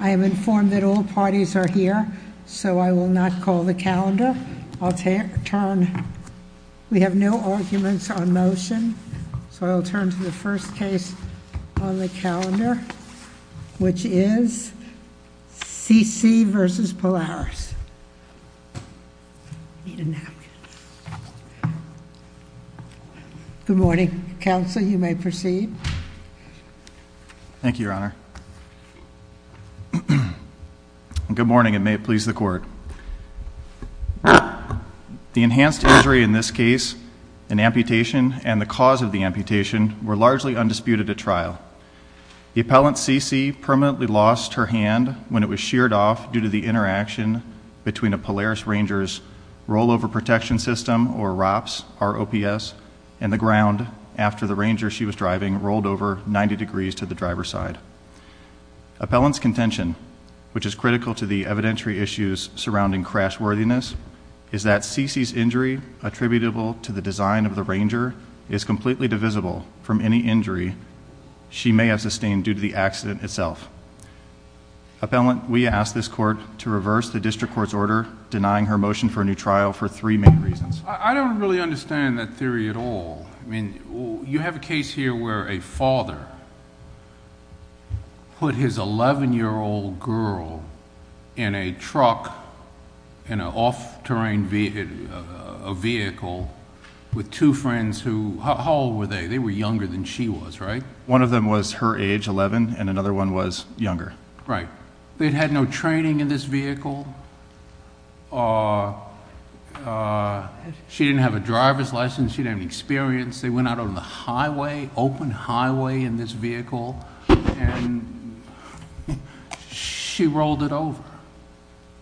I am informed that all parties are here, so I will not call the calendar. I'll turn, we have no arguments on motion, so I'll turn to the first case on the calendar, which is C.C. versus Polaris, need a napkin. Good morning, council, you may proceed. Thank you, your honor. Good morning, and may it please the court. The enhanced injury in this case, an amputation, and the cause of the amputation were largely undisputed at trial. The appellant, C.C., permanently lost her hand when it was sheared off due to the interaction between a Polaris Ranger's rollover protection system, or ROPS, R-O-P-S, and the ground after the Ranger she was rolled over 90 degrees to the driver's side. Appellant's contention, which is critical to the evidentiary issues surrounding crash worthiness, is that C.C.'s injury attributable to the design of the Ranger is completely divisible from any injury she may have sustained due to the accident itself. Appellant, we ask this court to reverse the district court's order denying her motion for a new trial for three main reasons. I don't really understand that theory at all. I have a case here where a father put his 11-year-old girl in a truck, in an off-terrain vehicle, with two friends who... how old were they? They were younger than she was, right? One of them was her age, 11, and another one was younger. Right. They'd had no training in this vehicle. She didn't have a driver's license. She didn't have any experience. They went out on the highway, open highway, in this vehicle, and she rolled it over.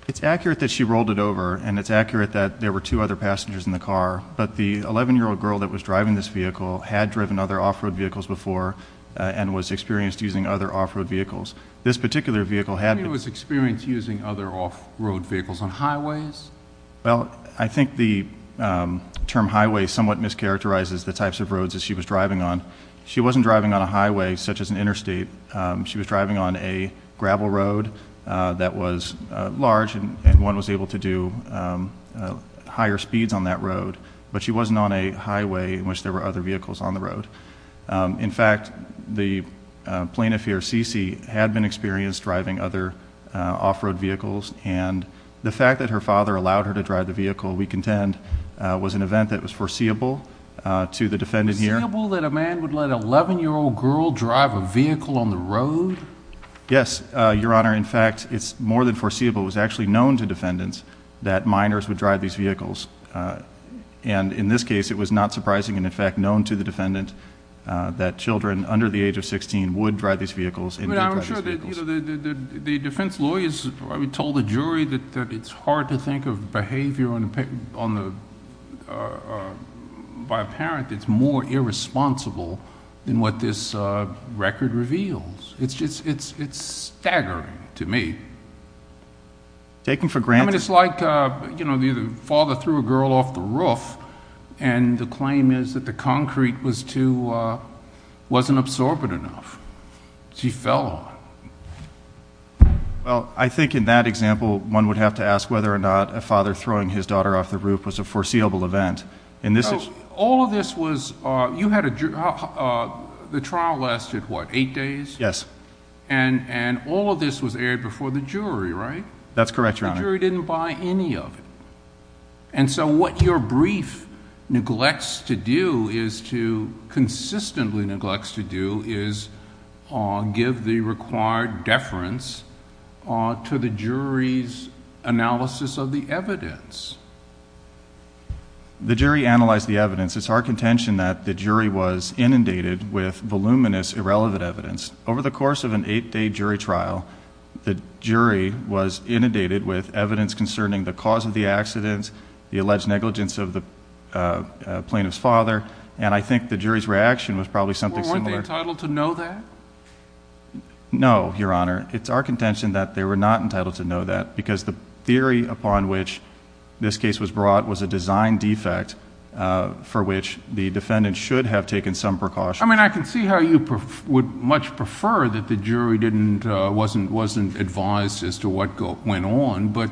It's accurate that she rolled it over, and it's accurate that there were two other passengers in the car, but the 11-year-old girl that was driving this vehicle had driven other off-road vehicles before and was experienced using other off-road vehicles. This particular vehicle had... She was experienced using other off-road vehicles on highways? Well, I think the term highway somewhat mischaracterizes the types of roads that she was driving on. She wasn't driving on a highway, such as an interstate. She was driving on a gravel road that was large, and one was able to do higher speeds on that road, but she wasn't on a highway in which there were other vehicles on the road. In fact, the plaintiff here, CeCe, had been experienced driving other vehicles. The fact that her father allowed her to drive the vehicle we contend was an event that was foreseeable to the defendant here. Foreseeable that a man would let an 11-year-old girl drive a vehicle on the road? Yes, Your Honor. In fact, it's more than foreseeable. It was actually known to defendants that minors would drive these vehicles, and in this case, it was not surprising and, in fact, known to the defendant that children under the age of 16 would drive these vehicles. I'm sure that the defense lawyers told the jury that it's hard to think of behavior by a parent that's more irresponsible than what this record reveals. It's staggering to me. Taking for granted... I mean, it's like the father threw a girl off the roof, and the claim is that the concrete wasn't absorbent enough. She fell off. Well, I think in that example, one would have to ask whether or not a father throwing his daughter off the roof was a foreseeable event. All of this was... you had a... the trial lasted, what, eight days? Yes. And all of this was aired before the jury, right? That's correct, Your Honor. The jury didn't buy any of it, and so what your brief neglects to do is to... consistently neglects to do is give the required deference to the jury's analysis of the evidence. The jury analyzed the evidence. It's our contention that the jury was inundated with voluminous, irrelevant evidence. Over the course of an eight-day jury trial, the jury was inundated with evidence concerning the cause of the accidents, the alleged negligence of the plaintiff's father, and I think the jury's reaction was probably something similar... Well, weren't they entitled to know that? No, Your Honor. It's our contention that they were not entitled to know that because the theory upon which this case was brought was a design defect for which the defendant should have taken some precaution. I mean, I can see how you would much prefer that the jury wasn't advised as to what went on, but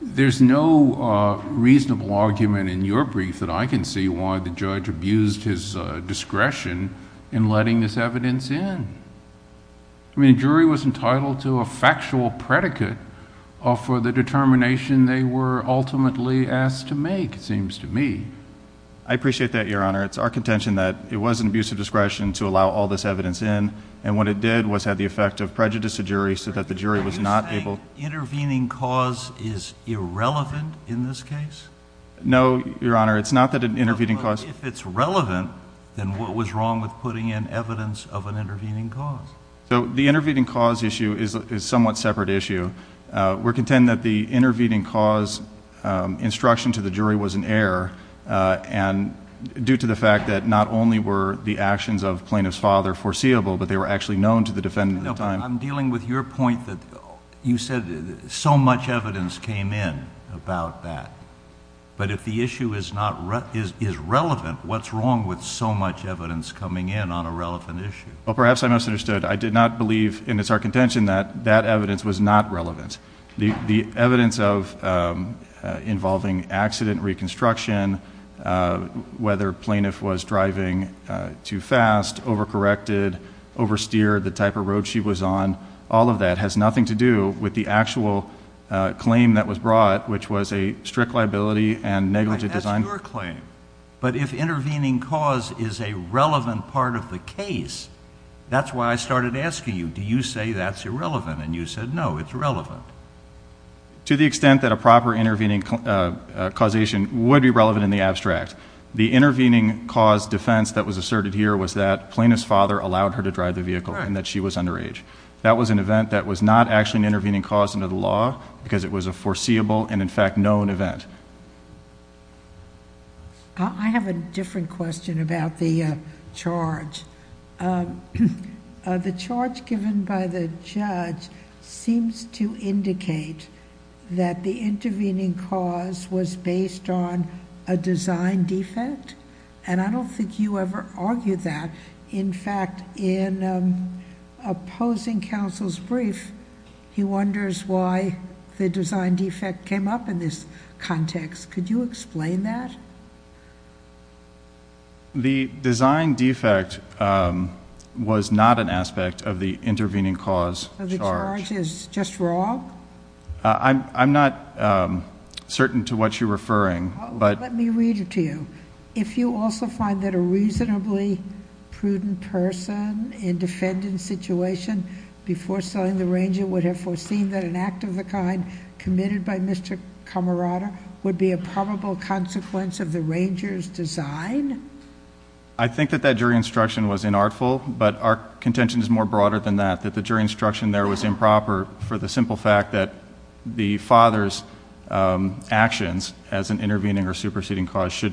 there's no reasonable argument in your brief that I can see why the judge abused his discretion in letting this evidence in. I mean, the jury was entitled to a factual predicate for the determination they were ultimately asked to make, it seems to me. I appreciate that, Your Honor. It's our contention that it was an abuse of discretion to allow all this evidence in, and what it did was have the effect of prejudice to jury, so that the jury was not able... Are you saying intervening cause is irrelevant in this case? No, Your Honor. It's not that an intervening cause... But, if it's relevant, then what was wrong with putting in evidence of an intervening cause? So, the intervening cause issue is a somewhat separate issue. We contend that the intervening cause instruction to the jury was an error, due to the fact that not only were the actions of plaintiff's father foreseeable, but they were actually known to the defendant at the time. I'm dealing with your point that you said so much evidence came in about that. But, if the issue is relevant, what's wrong with so much evidence coming in on a relevant issue? Well, perhaps I misunderstood. I did not believe, and it's our contention, that that evidence was not relevant. The evidence involving accident reconstruction, whether plaintiff was driving too fast, over-corrected, over-steered, the type of road she was on, all of that has nothing to do with the actual claim that was brought, which was a strict liability and negligent design... That's why I started asking you, do you say that's irrelevant? And, you said, no, it's relevant. To the extent that a proper intervening causation would be relevant in the abstract. The intervening cause defense that was asserted here was that plaintiff's father allowed her to drive the vehicle and that she was underage. That was an event that was not actually an intervening cause under the law, because it was a foreseeable and, in fact, known event. I have a different question about the charge. The charge given by the judge seems to indicate that the intervening cause was based on a design defect. And, I don't think you ever argued that. In fact, in opposing counsel's brief, he wonders why the design defect came up in this context. Could you explain that? The design defect was not an aspect of the intervening cause charge. So, the charge is just wrong? I'm not certain to what you're referring, but... Let me read it to you. If you also find that a reasonably prudent person in defendant's situation before selling the Ranger would have foreseen that an act of the kind committed by Mr. Camerata would be a probable consequence of the Ranger's design...... should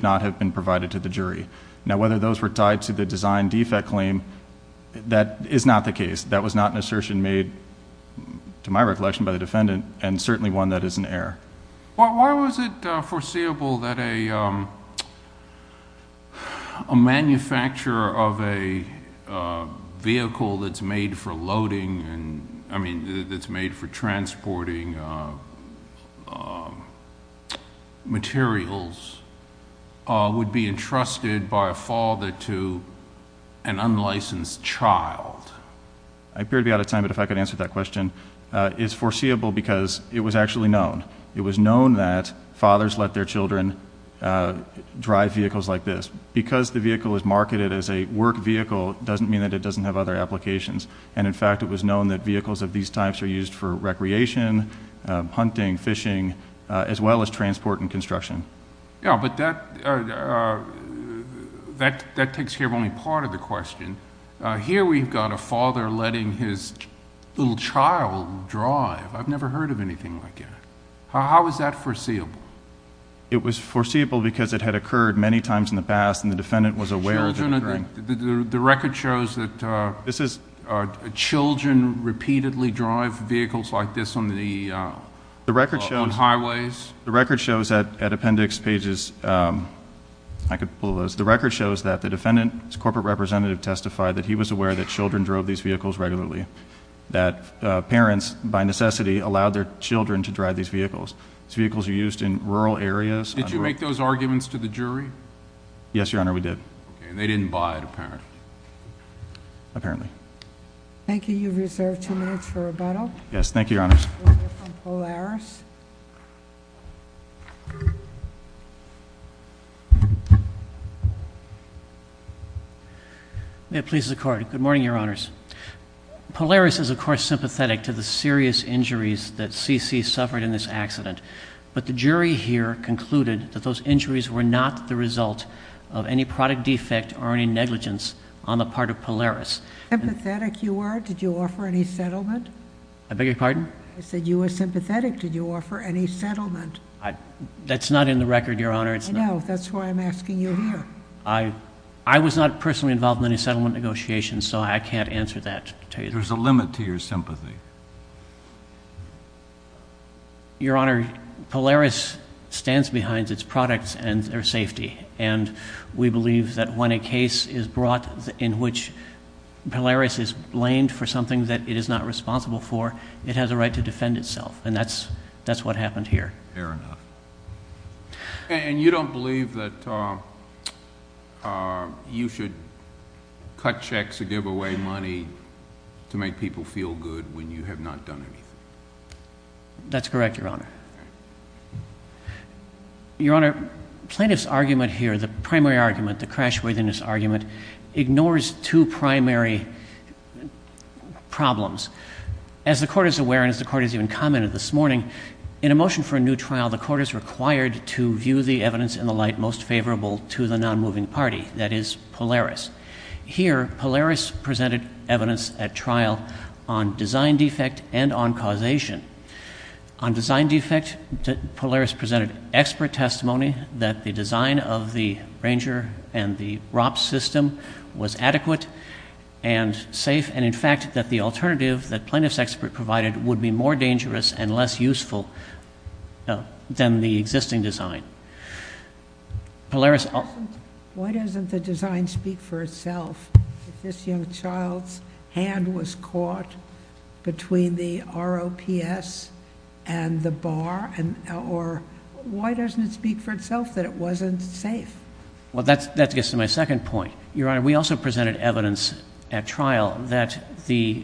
not have been provided to the jury. Now, whether those were tied to the design defect claim, that is not the case. That was not an assertion made, to my recollection, by the defendant and certainly one that is in error. Why was it foreseeable that a manufacturer of a vehicle that's made for loading... I mean, that's made for transporting materials, would be entrusted by a father to an unlicensed child? I appear to be out of time, but if I could answer that question. It's foreseeable because it was actually known. It was known that fathers let their children drive vehicles like this. Because the vehicle is marketed as a work vehicle, doesn't mean that it doesn't have other applications. And, in fact, it was known that vehicles of these types are used for recreation, hunting, fishing, as well as transport and construction. Yeah, but that... that takes care of only part of the question. Here we've got a father letting his little child drive. I've never heard of anything like that. How is that foreseeable? It was foreseeable because it had occurred many times in the past and the defendant was aware of it occurring. The record shows that... This is...... children repeatedly drive vehicles like this on the... The record shows...... on highways. The record shows that at appendix pages... I could pull those. The record shows that the defendant's corporate representative testified that he was aware that children drove these vehicles regularly. That parents, by necessity, allowed their children to drive these vehicles. These vehicles are used in rural areas. Did you make those arguments to the jury? Yes, Your Honor, we did. Okay, and they didn't buy it, apparently. Apparently. Thank you. You've reserved two minutes for rebuttal. Yes. Thank you, Your Honors. We'll hear from Polaris. May it please the Court. Good morning, Your Honors. Polaris is, of course, sympathetic to the serious injuries that CeCe suffered in this accident. But the jury here concluded that those injuries were not the result of any product defect or any negligence on the part of Polaris. How sympathetic you are, did you offer any settlement? I beg your pardon? I said you were sympathetic. Did you offer any settlement? That's not in the record, Your Honor. I know. That's why I'm asking you here. I was not personally involved in any settlement negotiations, so I can't answer that. There's a limit to your sympathy. Your Honor, Polaris stands behind its products and their safety. And we believe that when a case is brought in which Polaris is blamed for something that it is not responsible for, it has a right to defend itself. And that's what happened here. Fair enough. And you don't believe that you should cut checks or give away money to make people feel good when you have not done anything? That's correct, Your Honor. Your Honor, plaintiff's argument here, the primary argument, the crashworthiness argument, ignores two primary problems. As the Court is aware, and as the Court has even commented this morning, in a motion for a new trial, the Court is required to view the evidence in the light most favorable to the nonmoving party, that is, Polaris. Here, Polaris presented evidence at trial on design defect and on causation. On design defect, Polaris presented expert testimony that the design of the Ranger and the ROPS system was adequate and safe, and, in fact, that the alternative that plaintiff's expert provided would be more dangerous and less useful than the existing design. Polaris. Why doesn't the design speak for itself? If this young child's hand was caught between the ROPS and the bar, or why doesn't it speak for itself that it wasn't safe? Well, that gets to my second point. Your Honor, we also presented evidence at trial that the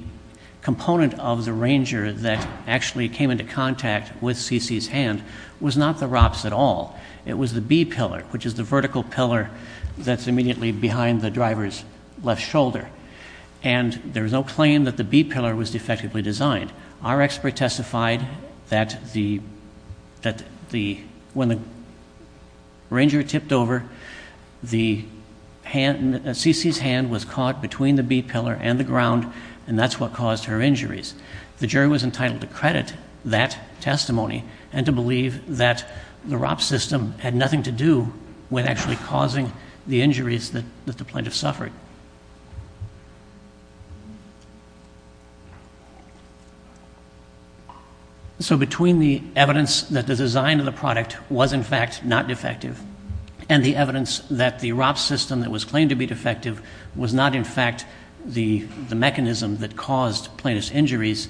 component of the Ranger that actually came into contact with C.C.'s hand was not the ROPS at all. It was the B-pillar, which is the vertical pillar that's immediately behind the driver's left shoulder. And there's no claim that the B-pillar was defectively designed. Our expert testified that when the Ranger tipped over, C.C.'s hand was caught between the B-pillar and the ground, and that's what caused her injuries. The jury was entitled to credit that testimony and to believe that the ROPS system had nothing to do with actually causing the injuries that the plaintiff suffered. So between the evidence that the design of the product was, in fact, not defective, and the evidence that the ROPS system that was claimed to be defective was not, in fact, the mechanism that caused plaintiff's injuries,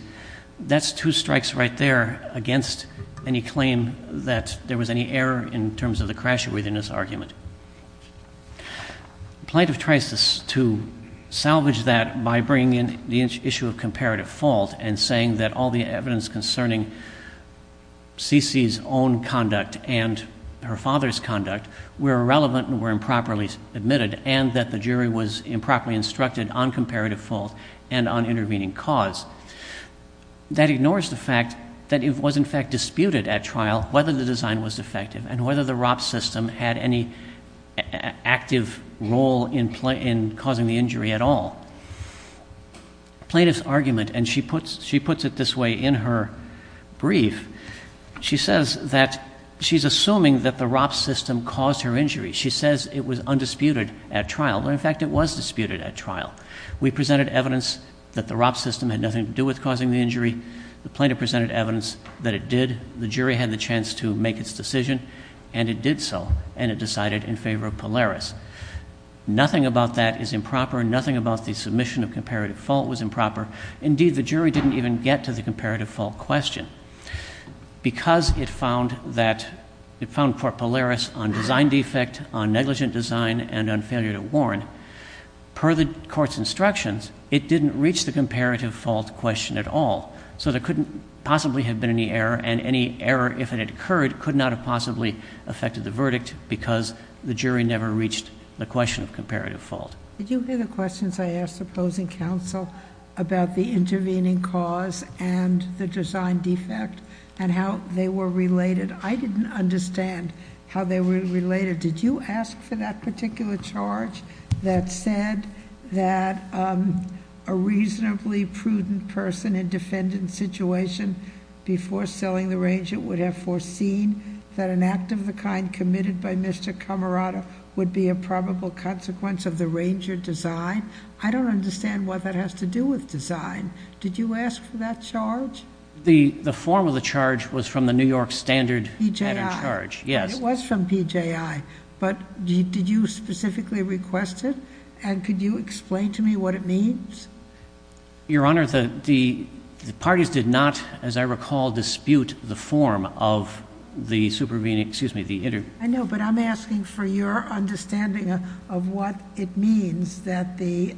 that's two strikes right there against any claim that there was any error in terms of the crash-worthiness argument. The plaintiff tries to salvage that by bringing in the issue of comparative fault and saying that all the evidence concerning C.C.'s own conduct and her father's conduct were irrelevant and were improperly admitted, and that the jury was improperly instructed on comparative fault and on intervening cause. That ignores the fact that it was, in fact, disputed at trial whether the design was defective and whether the ROPS system had any active role in causing the injury at all. Plaintiff's argument, and she puts it this way in her brief, she says that she's assuming that the ROPS system caused her injury. She says it was undisputed at trial, when, in fact, it was disputed at trial. We presented evidence that the ROPS system had nothing to do with causing the injury. The plaintiff presented evidence that it did. The jury had the chance to make its decision, and it did so, and it decided in favor of Polaris. Nothing about that is improper. Nothing about the submission of comparative fault was improper. Indeed, the jury didn't even get to the comparative fault question. Because it found that, it found for Polaris on design defect, on negligent design, and on failure to warn, per the court's instructions, it didn't reach the comparative fault question at all. So there couldn't possibly have been any error, and any error, if it had occurred, could not have possibly affected the verdict because the jury never reached the question of comparative fault. Did you hear the questions I asked the opposing counsel about the intervening cause and the design defect, and how they were related? I didn't understand how they were related. Did you ask for that particular charge that said that a reasonably prudent person in defendant situation before selling the range, it would have foreseen that an act of the kind committed by Mr. Camerata would be a probable consequence of the ranger design? I don't understand what that has to do with design. Did you ask for that charge? The form of the charge was from the New York standard matter charge. PJI. Yes. It was from PJI. But did you specifically request it? And could you explain to me what it means? Your Honor, the parties did not, as I recall, dispute the form of the supervening, excuse me, the interview. I know, but I'm asking for your understanding of what it means that the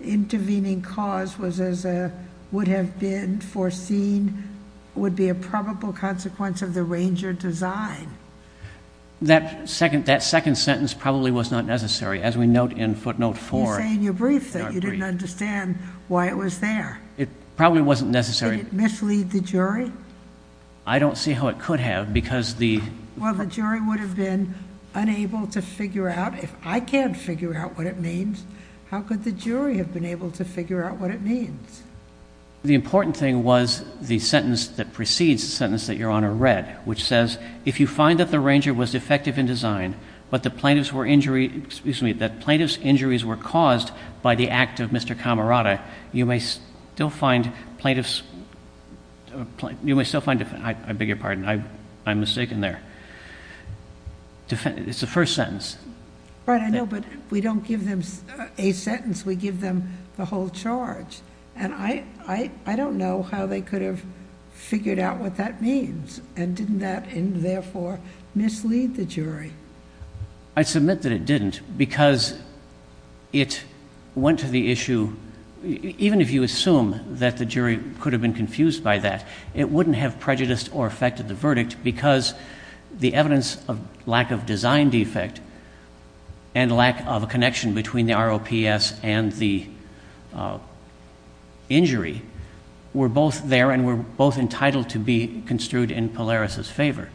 intervening cause would have been foreseen would be a probable consequence of the ranger design. That second sentence probably was not necessary, as we note in footnote four. You say in your brief that you didn't understand why it was there. It probably wasn't necessary. Did it mislead the jury? I don't see how it could have because the... Well, the jury would have been unable to figure out. If I can't figure out what it means, how could the jury have been able to figure out what it means? The important thing was the sentence that precedes the sentence that Your Honor read, which says, if you find that the ranger was defective in design, but the plaintiff's injuries were caused by the act of Mr. Camerata, you may still find... I beg your pardon. I'm mistaken there. It's the first sentence. Right, I know, but we don't give them a sentence. We give them the whole charge. I don't know how they could have figured out what that means. Didn't that therefore mislead the jury? I submit that it didn't because it went to the issue... Even if you assume that the jury could have been confused by that, it wouldn't have prejudiced or affected the verdict because the evidence of lack of design defect and lack of a connection between the ROPS and the injury were both there and were both entitled to be construed in Polaris's favor.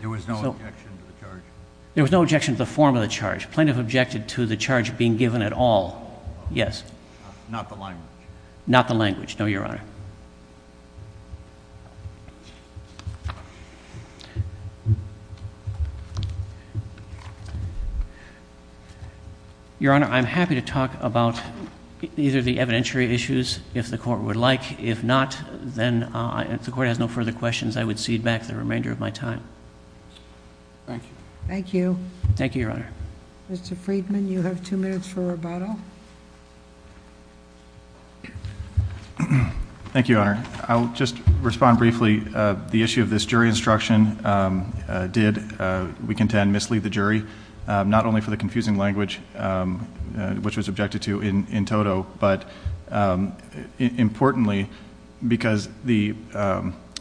There was no objection to the charge? There was no objection to the form of the charge. The plaintiff objected to the charge being given at all, yes. Not the language? Not the language, no, Your Honor. Your Honor, I'm happy to talk about either the evidentiary issues if the court would like. If not, then if the court has no further questions, I would cede back the remainder of my time. Thank you. Thank you. Thank you, Your Honor. Mr. Friedman, you have two minutes for rebuttal. Thank you, Your Honor. I'll just respond briefly. The issue of this jury instruction did, we contend, mislead the jury, not only for the confusing language, which was objected to in toto, but importantly because the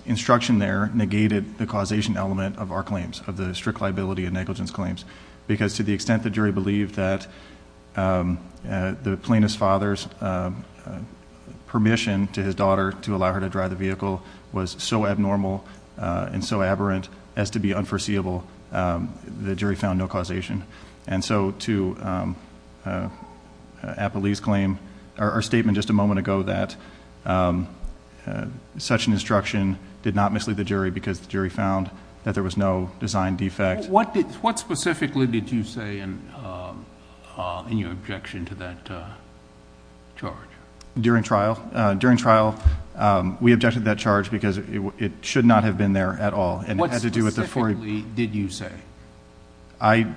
instruction there negated the causation element of our claims, of the strict liability and negligence claims, because to the extent the jury believed that the plaintiff's father's permission to his daughter to allow her to drive the vehicle was so abnormal and so aberrant as to be unforeseeable, the jury found no causation. And so to Apolli's claim, our statement just a moment ago that such an instruction did not mislead the jury because the jury found that there was no design defect. What specifically did you say in your objection to that charge? During trial, we objected to that charge because it should not have been there at all. What specifically did you say? I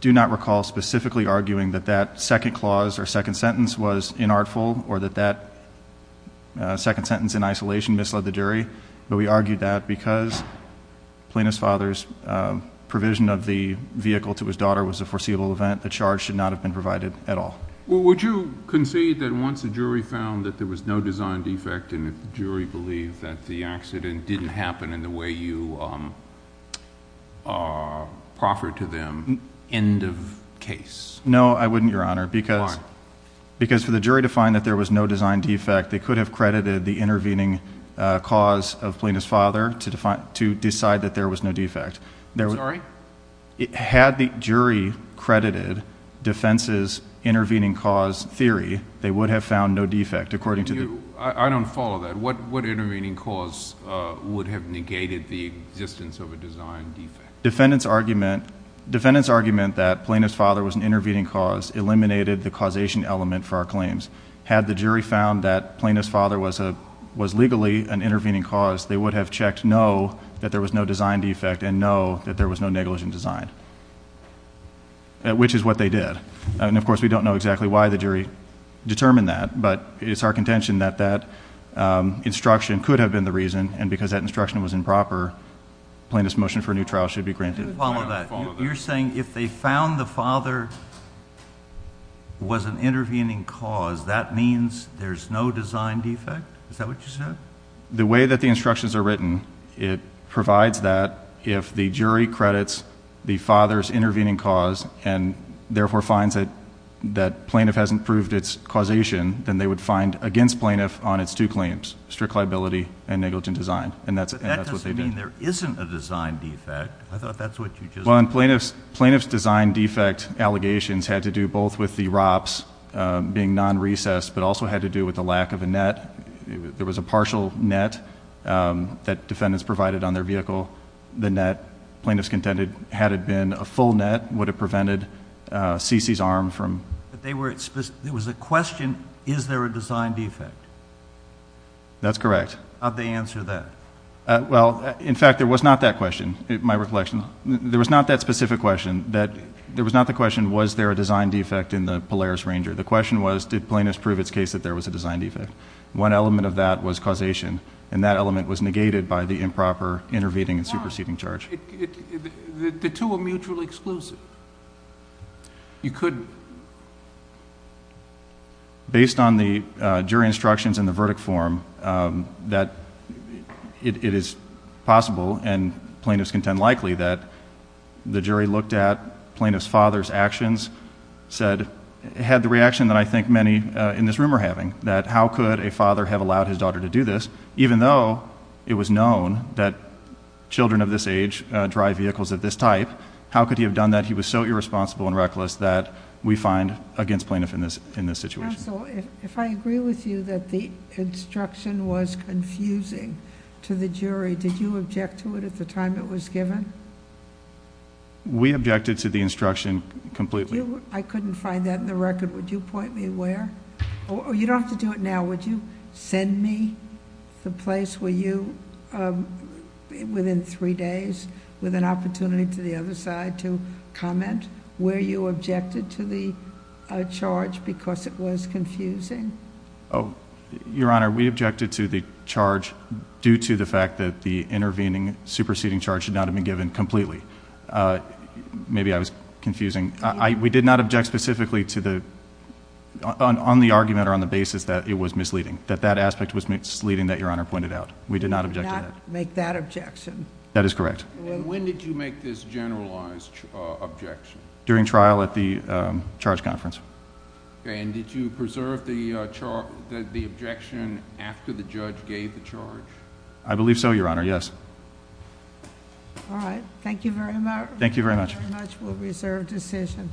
do not recall specifically arguing that that second clause or second sentence was inartful or that that second sentence in isolation misled the jury, but we argued that because plaintiff's father's provision of the vehicle to his daughter was a foreseeable event, the charge should not have been provided at all. Would you concede that once the jury found that there was no design defect and that the jury believed that the accident didn't happen in the way you proffered to them, end of case? No, I wouldn't, Your Honor. Why? Because for the jury to find that there was no design defect, they could have credited the intervening cause of plaintiff's father to decide that there was no defect. Sorry? Had the jury credited defense's intervening cause theory, they would have found no defect. I don't follow that. What intervening cause would have negated the existence of a design defect? Defendant's argument that plaintiff's father was an intervening cause eliminated the causation element for our claims. Had the jury found that plaintiff's father was legally an intervening cause, they would have checked no, that there was no design defect, and no, that there was no negligent design, which is what they did. And, of course, we don't know exactly why the jury determined that, but it's our contention that that instruction could have been the reason, and because that instruction was improper, plaintiff's motion for a new trial should be granted. I don't follow that. You're saying if they found the father was an intervening cause, that means there's no design defect? Is that what you said? The way that the instructions are written, it provides that if the jury credits the father's intervening cause and, therefore, finds that plaintiff hasn't proved its causation, then they would find against plaintiff on its two claims, strict liability and negligent design, and that's what they did. But that doesn't mean there isn't a design defect. I thought that's what you just said. Plaintiff's design defect allegations had to do both with the ROPS being non-recessed but also had to do with the lack of a net. There was a partial net that defendants provided on their vehicle. The net, plaintiff's contended, had it been a full net, would have prevented C.C.'s arm from... But there was a question, is there a design defect? That's correct. How'd they answer that? Well, in fact, there was not that question, in my recollection. There was not that specific question. There was not the question, was there a design defect in the Polaris Ranger? The question was, did plaintiff's prove its case that there was a design defect? One element of that was causation, and that element was negated by the improper intervening and superseding charge. Why? The two are mutually exclusive. You couldn't... It is possible, and plaintiff's contend likely, that the jury looked at plaintiff's father's actions, said, had the reaction that I think many in this room are having, that how could a father have allowed his daughter to do this, even though it was known that children of this age drive vehicles of this type? How could he have done that? He was so irresponsible and reckless that we find against plaintiff in this situation. Counsel, if I agree with you that the instruction was confusing to the jury, did you object to it at the time it was given? We objected to the instruction completely. I couldn't find that in the record. Would you point me where? You don't have to do it now. Would you send me the place where you, within three days, with an opportunity to the other side to comment where you objected to the charge because it was confusing? Your Honor, we objected to the charge due to the fact that the intervening superseding charge should not have been given completely. Maybe I was confusing. We did not object specifically to the, on the argument or on the basis that it was misleading, that that aspect was misleading that Your Honor pointed out. We did not object to that. We did not make that objection. That is correct. When did you make this generalized objection? During trial at the charge conference. And did you preserve the objection after the judge gave the charge? I believe so, Your Honor, yes. All right, thank you very much. Thank you very much. Thank you very much. We'll reserve decision.